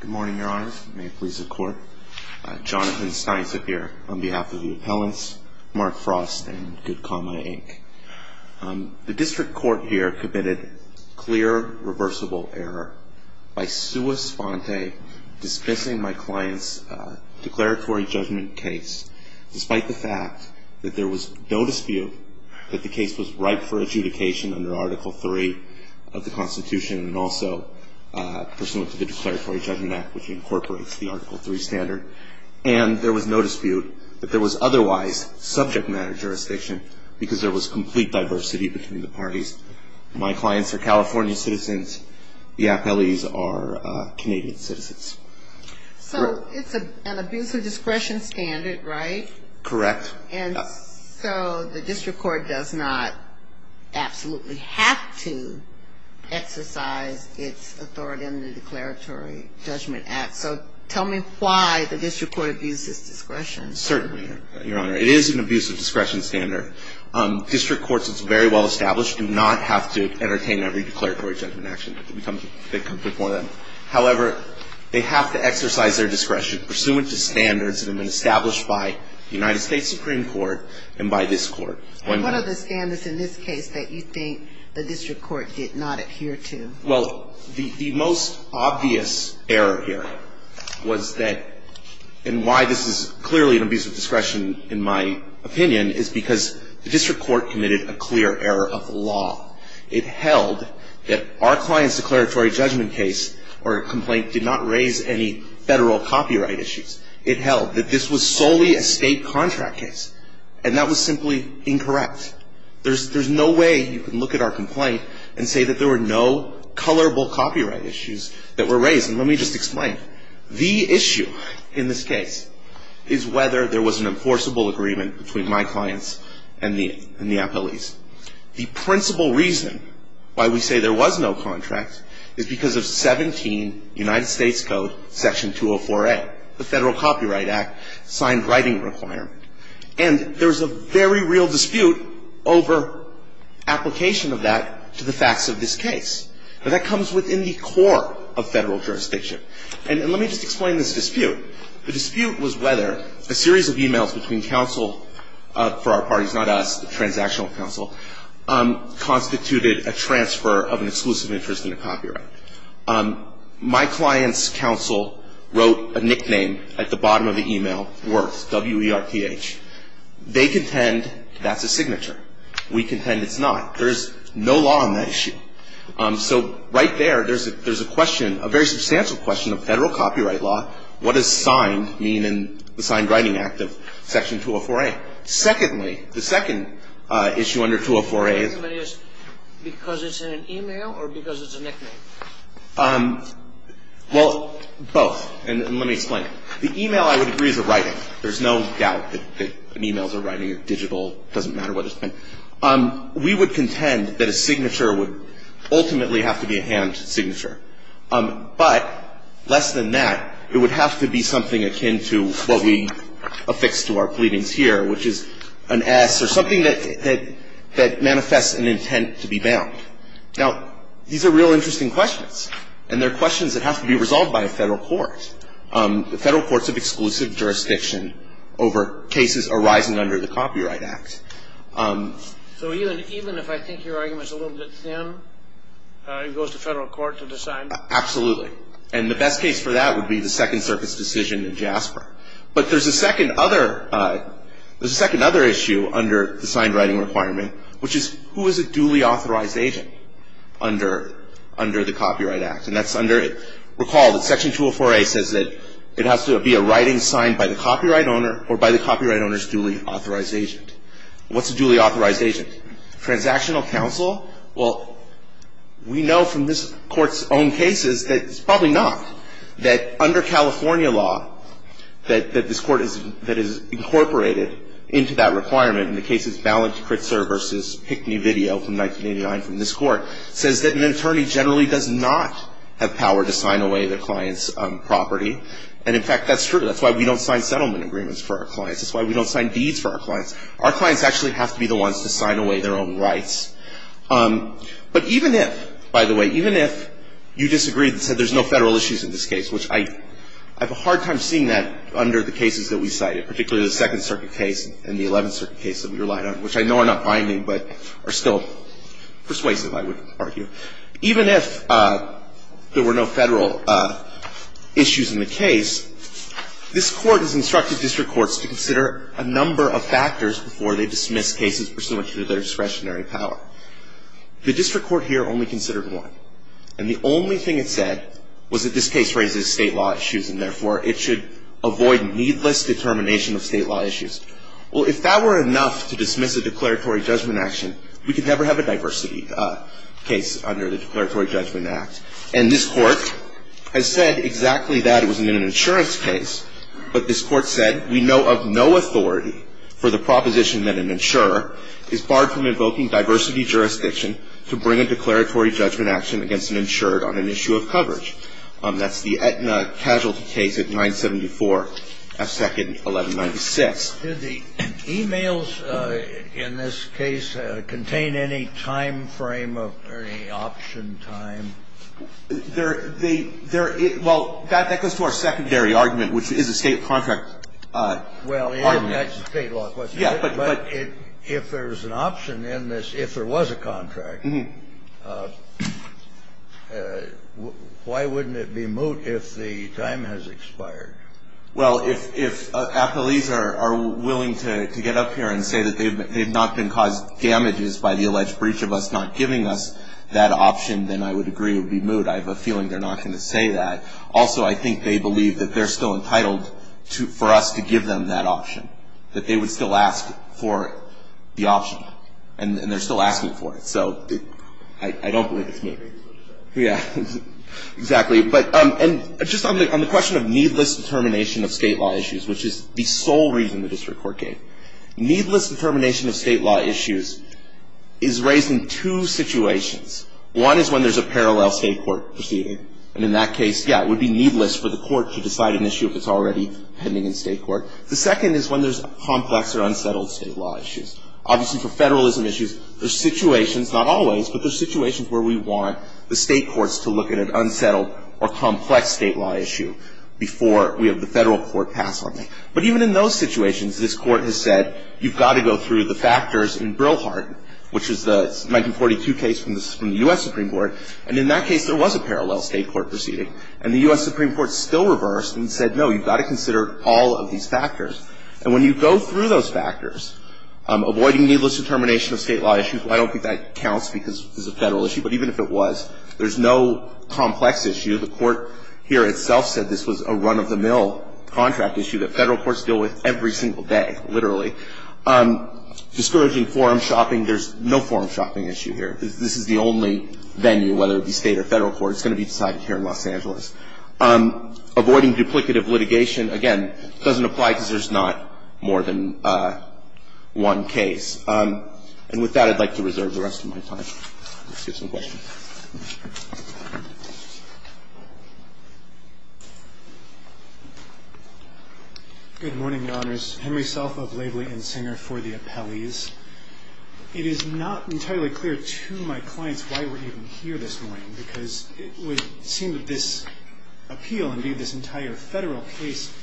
Good morning, Your Honors. May it please the Court. Jonathan Steinzip here on behalf of the appellants, Mark Frost and Goodcomma, Inc. The District Court here committed clear reversible error by sua sponte dismissing my client's declaratory judgment case despite the fact that there was no dispute that the case was ripe for adjudication under Article III of the Constitution and also pursuant to the Declaratory Judgment Act which incorporates the Article III standard. And there was no dispute that there was otherwise subject matter jurisdiction because there was complete diversity between the parties. My clients are California citizens. The appellees are Canadian citizens. So it's an abuse of discretion standard, right? Correct. And so the District Court does not absolutely have to exercise its authority under the Declaratory Judgment Act. So tell me why the District Court abuses discretion. Certainly, Your Honor. It is an abuse of discretion standard. District Courts, it's very well established, do not have to entertain every declaratory judgment action that comes before them. However, they have to exercise their discretion pursuant to standards that have been established by the United States Supreme Court and by this Court. And what are the standards in this case that you think the District Court did not adhere to? Well, the most obvious error here was that, and why this is clearly an abuse of discretion, in my opinion, is because the District Court committed a clear error of the law. It held that our client's declaratory judgment case or complaint did not raise any federal copyright issues. It held that this was solely a state contract case. And that was simply incorrect. There's no way you can look at our complaint and say that there were no colorable copyright issues that were raised. And let me just explain. The issue in this case is whether there was an enforceable agreement between my clients and the appellees. The principal reason why we say there was no contract is because of 17 United States Code Section 204A, the Federal Copyright Act signed writing requirement. And there's a very real dispute over application of that to the facts of this case. But that comes within the core of federal jurisdiction. And let me just explain this dispute. The dispute was whether a series of e-mails between counsel for our parties, not us, the transactional counsel, constituted a transfer of an exclusive interest in a copyright. My client's counsel wrote a nickname at the bottom of the e-mail, WERTH, W-E-R-T-H. They contend that's a signature. We contend it's not. There is no law on that issue. So right there, there's a question, a very substantial question of federal copyright law. What does signed mean in the Signed Writing Act of Section 204A? Secondly, the second issue under 204A is. Because it's in an e-mail or because it's a nickname? Well, both. And let me explain. The e-mail, I would agree, is a writing. There's no doubt that an e-mail is a writing, a digital. It doesn't matter what it's been. We would contend that a signature would ultimately have to be a hand signature. But less than that, it would have to be something akin to what we affix to our pleadings here, which is an S or something that manifests an intent to be bound. Now, these are real interesting questions. And they're questions that have to be resolved by a federal court. The federal courts have exclusive jurisdiction over cases arising under the Copyright Act. So even if I think your argument is a little bit thin, it goes to federal court to decide? Absolutely. And the best case for that would be the Second Circuit's decision in JASPER. But there's a second other issue under the signed writing requirement, which is who is a duly authorized agent under the Copyright Act? And that's under. Recall that Section 204A says that it has to be a writing signed by the copyright owner or by the copyright owner's duly authorized agent. What's a duly authorized agent? Transactional counsel? Well, we know from this Court's own cases that it's probably not. That under California law, that this Court has incorporated into that requirement, and the case is Ballanty Critzer v. Hickney Video from 1989 from this Court, says that an attorney generally does not have power to sign away their client's property. And, in fact, that's true. That's why we don't sign settlement agreements for our clients. That's why we don't sign deeds for our clients. Our clients actually have to be the ones to sign away their own rights. But even if, by the way, even if you disagreed and said there's no federal issues in this case, which I have a hard time seeing that under the cases that we cited, particularly the Second Circuit case and the Eleventh Circuit case that we relied on, which I know are not binding but are still persuasive, I would argue. Even if there were no federal issues in the case, this Court has instructed district courts to consider a number of factors before they dismiss cases pursuant to their discretionary power. The district court here only considered one. And the only thing it said was that this case raises State law issues, and therefore it should avoid needless determination of State law issues. Well, if that were enough to dismiss a declaratory judgment action, we could never have a diversity case under the Declaratory Judgment Act. And this Court has said exactly that. It wasn't in an insurance case. But this Court said we know of no authority for the proposition that an insurer is barred from invoking diversity jurisdiction to bring a declaratory judgment action against an insured on an issue of coverage. That's the Aetna casualty case at 974 F. Second 1196. Do the e-mails in this case contain any time frame or any option time? They're the – well, that goes to our secondary argument, which is a State contract argument. Well, that's a State law question. But if there's an option in this, if there was a contract, why wouldn't it be moot if the time has expired? Well, if appellees are willing to get up here and say that they've not been caused damages by the alleged breach of us not giving us that option, then I would agree it would be moot. I have a feeling they're not going to say that. Also, I think they believe that they're still entitled for us to give them that option, that they would still ask for the option, and they're still asking for it. So I don't believe it's moot. Yeah, exactly. And just on the question of needless determination of State law issues, which is the sole reason the district court gave. Needless determination of State law issues is raised in two situations. One is when there's a parallel State court proceeding. And in that case, yeah, it would be needless for the court to decide an issue if it's already pending in State court. The second is when there's complex or unsettled State law issues. Obviously, for federalism issues, there's situations, not always, but there's situations where the State court has said, no, you've got to consider all of these factors. And when you go through those factors, avoiding needless determination of State law issues, I don't think that counts because it's a federal issue, but even if it was, all of these factors. There's no complex issue. The court here itself said this was a run-of-the-mill contract issue that federal courts deal with every single day, literally. Discouraging forum shopping, there's no forum shopping issue here. This is the only venue, whether it be State or federal court. It's going to be decided here in Los Angeles. Avoiding duplicative litigation, again, doesn't apply because there's not more than one case. And with that, I'd like to reserve the rest of my time. Let's hear some questions. Good morning, Your Honors. Henry Self of Laveley & Singer for the appellees. It is not entirely clear to my clients why we're even here this morning because it would seem that this appeal, indeed this entire federal case,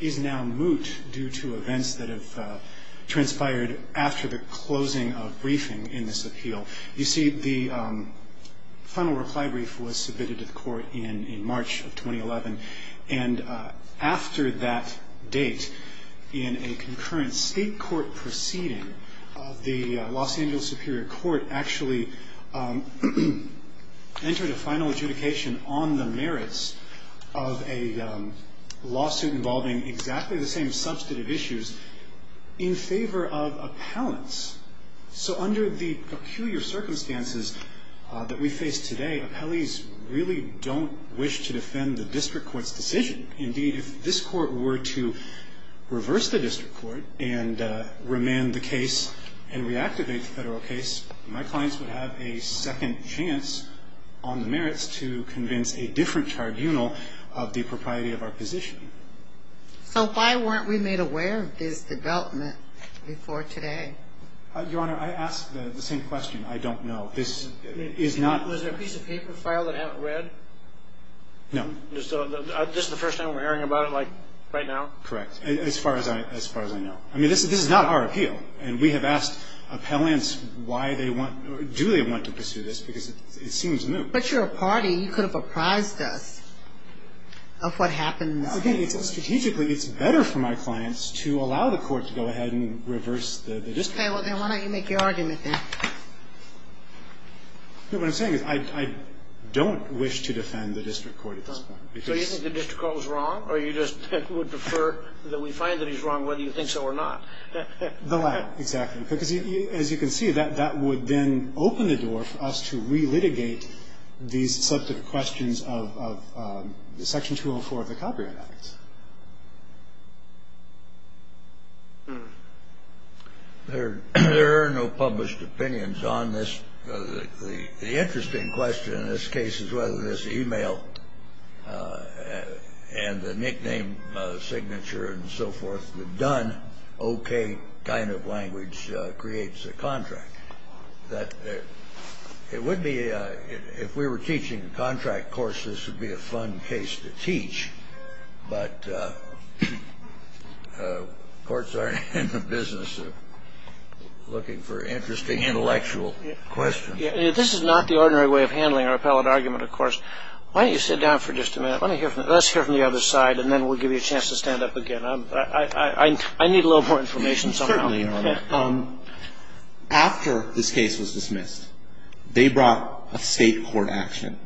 is now moot due to events that have transpired after the closing of briefing in this appeal. You see, the final reply brief was submitted to the court in March of 2011. And after that date, in a concurrent state court proceeding, the Los Angeles Superior Court actually entered a final adjudication on the merits of a lawsuit involving exactly the same substantive issues in favor of appellants. So under the peculiar circumstances that we face today, appellees really don't wish to defend the district court's decision. Indeed, if this court were to reverse the district court and remand the case and reactivate the federal case, my clients would have a second chance on the merits to convince a different tribunal of the propriety of our position. So why weren't we made aware of this development before today? Your Honor, I ask the same question. I don't know. This is not... Was there a piece of paper filed that haven't read? No. This is the first time we're hearing about it, like, right now? Correct. As far as I know. I mean, this is not our appeal. And we have asked appellants why they want, or do they want to pursue this because it seems moot. But you're a party. You could have apprised us of what happened. Again, strategically, it's better for my clients to allow the court to go ahead and reverse the district court. Okay. Well, then why don't you make your argument, then? What I'm saying is I don't wish to defend the district court at this point. So you think the district court was wrong, or you just would prefer that we find that he's wrong whether you think so or not? The latter, exactly. Because, as you can see, that would then open the door for us to re-litigate these substantive questions of Section 204 of the Copyright Act. There are no published opinions on this. The interesting question in this case is whether this e-mail and the nickname, and so forth, the done, okay kind of language creates a contract. It would be, if we were teaching contract courses, it would be a fun case to teach. But courts are in the business of looking for interesting intellectual questions. This is not the ordinary way of handling our appellate argument, of course. Why don't you sit down for just a minute? Let's hear from the other side, and then we'll give you a chance to stand up again. I need a little more information somehow. Certainly, Your Honor. After this case was dismissed, they brought a state court action.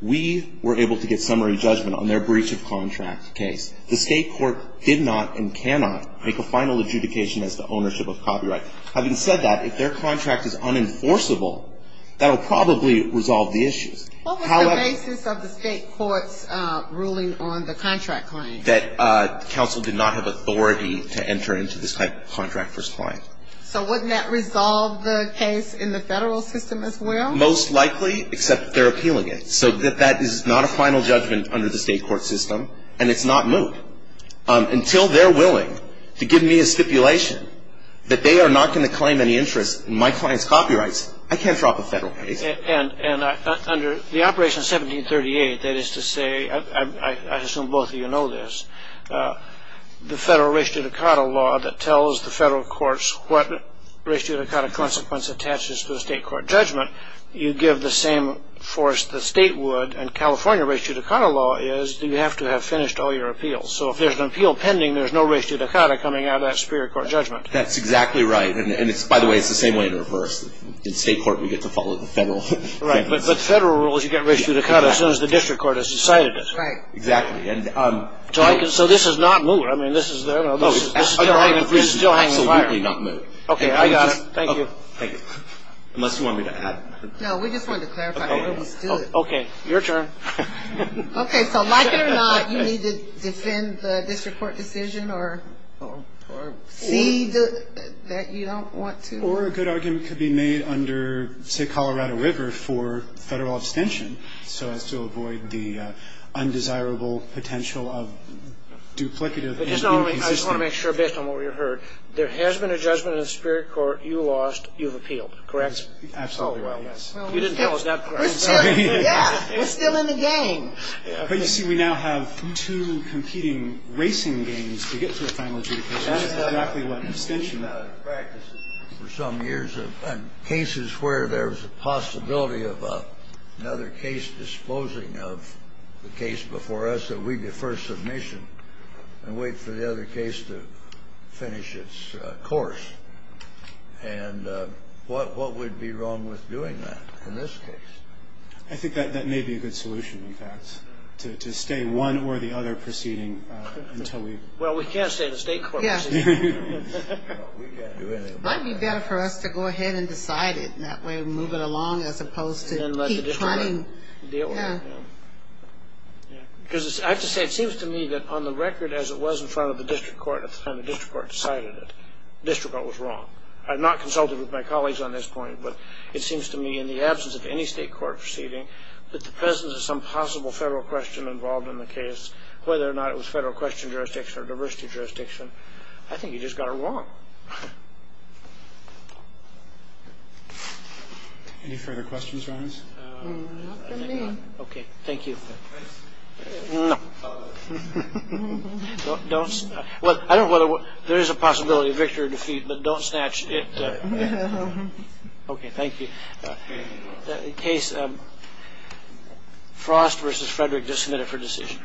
We were able to get summary judgment on their breach of contract case. The state court did not and cannot make a final adjudication as to ownership of copyright. Having said that, if their contract is unenforceable, that will probably resolve the issues. What was the basis of the state court's ruling on the contract claim? That counsel did not have authority to enter into this type of contract for this client. So wouldn't that resolve the case in the federal system as well? Most likely, except they're appealing it. So that is not a final judgment under the state court system, and it's not moved. Until they're willing to give me a stipulation that they are not going to claim any interest in my client's copyrights, I can't drop a federal case. Under the operation 1738, that is to say, I assume both of you know this, the federal res judicata law that tells the federal courts what res judicata consequence attaches to the state court judgment, you give the same force the state would, and California res judicata law is that you have to have finished all your appeals. So if there's an appeal pending, there's no res judicata coming out of that superior court judgment. That's exactly right. And, by the way, it's the same way in reverse. In state court, we get to follow the federal. Right. But federal rules, you get res judicata as soon as the district court has decided it. Right. Exactly. So this is not moved. I mean, this is still hanging in the fire. Absolutely not moved. Okay. I got it. Thank you. Unless you want me to add. No, we just wanted to clarify. Let's do it. Okay. Your turn. Okay. So like it or not, you need to defend the district court decision or see that you don't want to. Or a good argument could be made under, say, Colorado River for federal abstention so as to avoid the undesirable potential of duplicative inconsistency. I just want to make sure, based on what we've heard, there has been a judgment in the superior court. You lost. You've appealed. Correct? Absolutely right. You didn't tell us that part. We're still in the game. But you see, we now have two competing racing games to get to a final adjudication. That is exactly what abstention is. For some years, cases where there's a possibility of another case disposing of the case before us that we defer submission and wait for the other case to finish its course. And what would be wrong with doing that in this case? I think that may be a good solution, in fact, to stay one or the other proceeding until we... We can't do anything about that. It might be better for us to go ahead and decide it. That way we move it along as opposed to keep trying. I have to say, it seems to me that on the record as it was in front of the district court at the time the district court decided it, the district court was wrong. I have not consulted with my colleagues on this point, but it seems to me in the absence of any state court proceeding that the presence of some possible federal question involved in the case, whether or not it was federal question jurisdiction or diversity jurisdiction, I think you just got it wrong. Any further questions from us? Not from me. Okay, thank you. No. Don't... Well, I don't know whether... There is a possibility of victory or defeat, but don't snatch it. Okay, thank you. In any case, Frost v. Frederick just submitted for decision.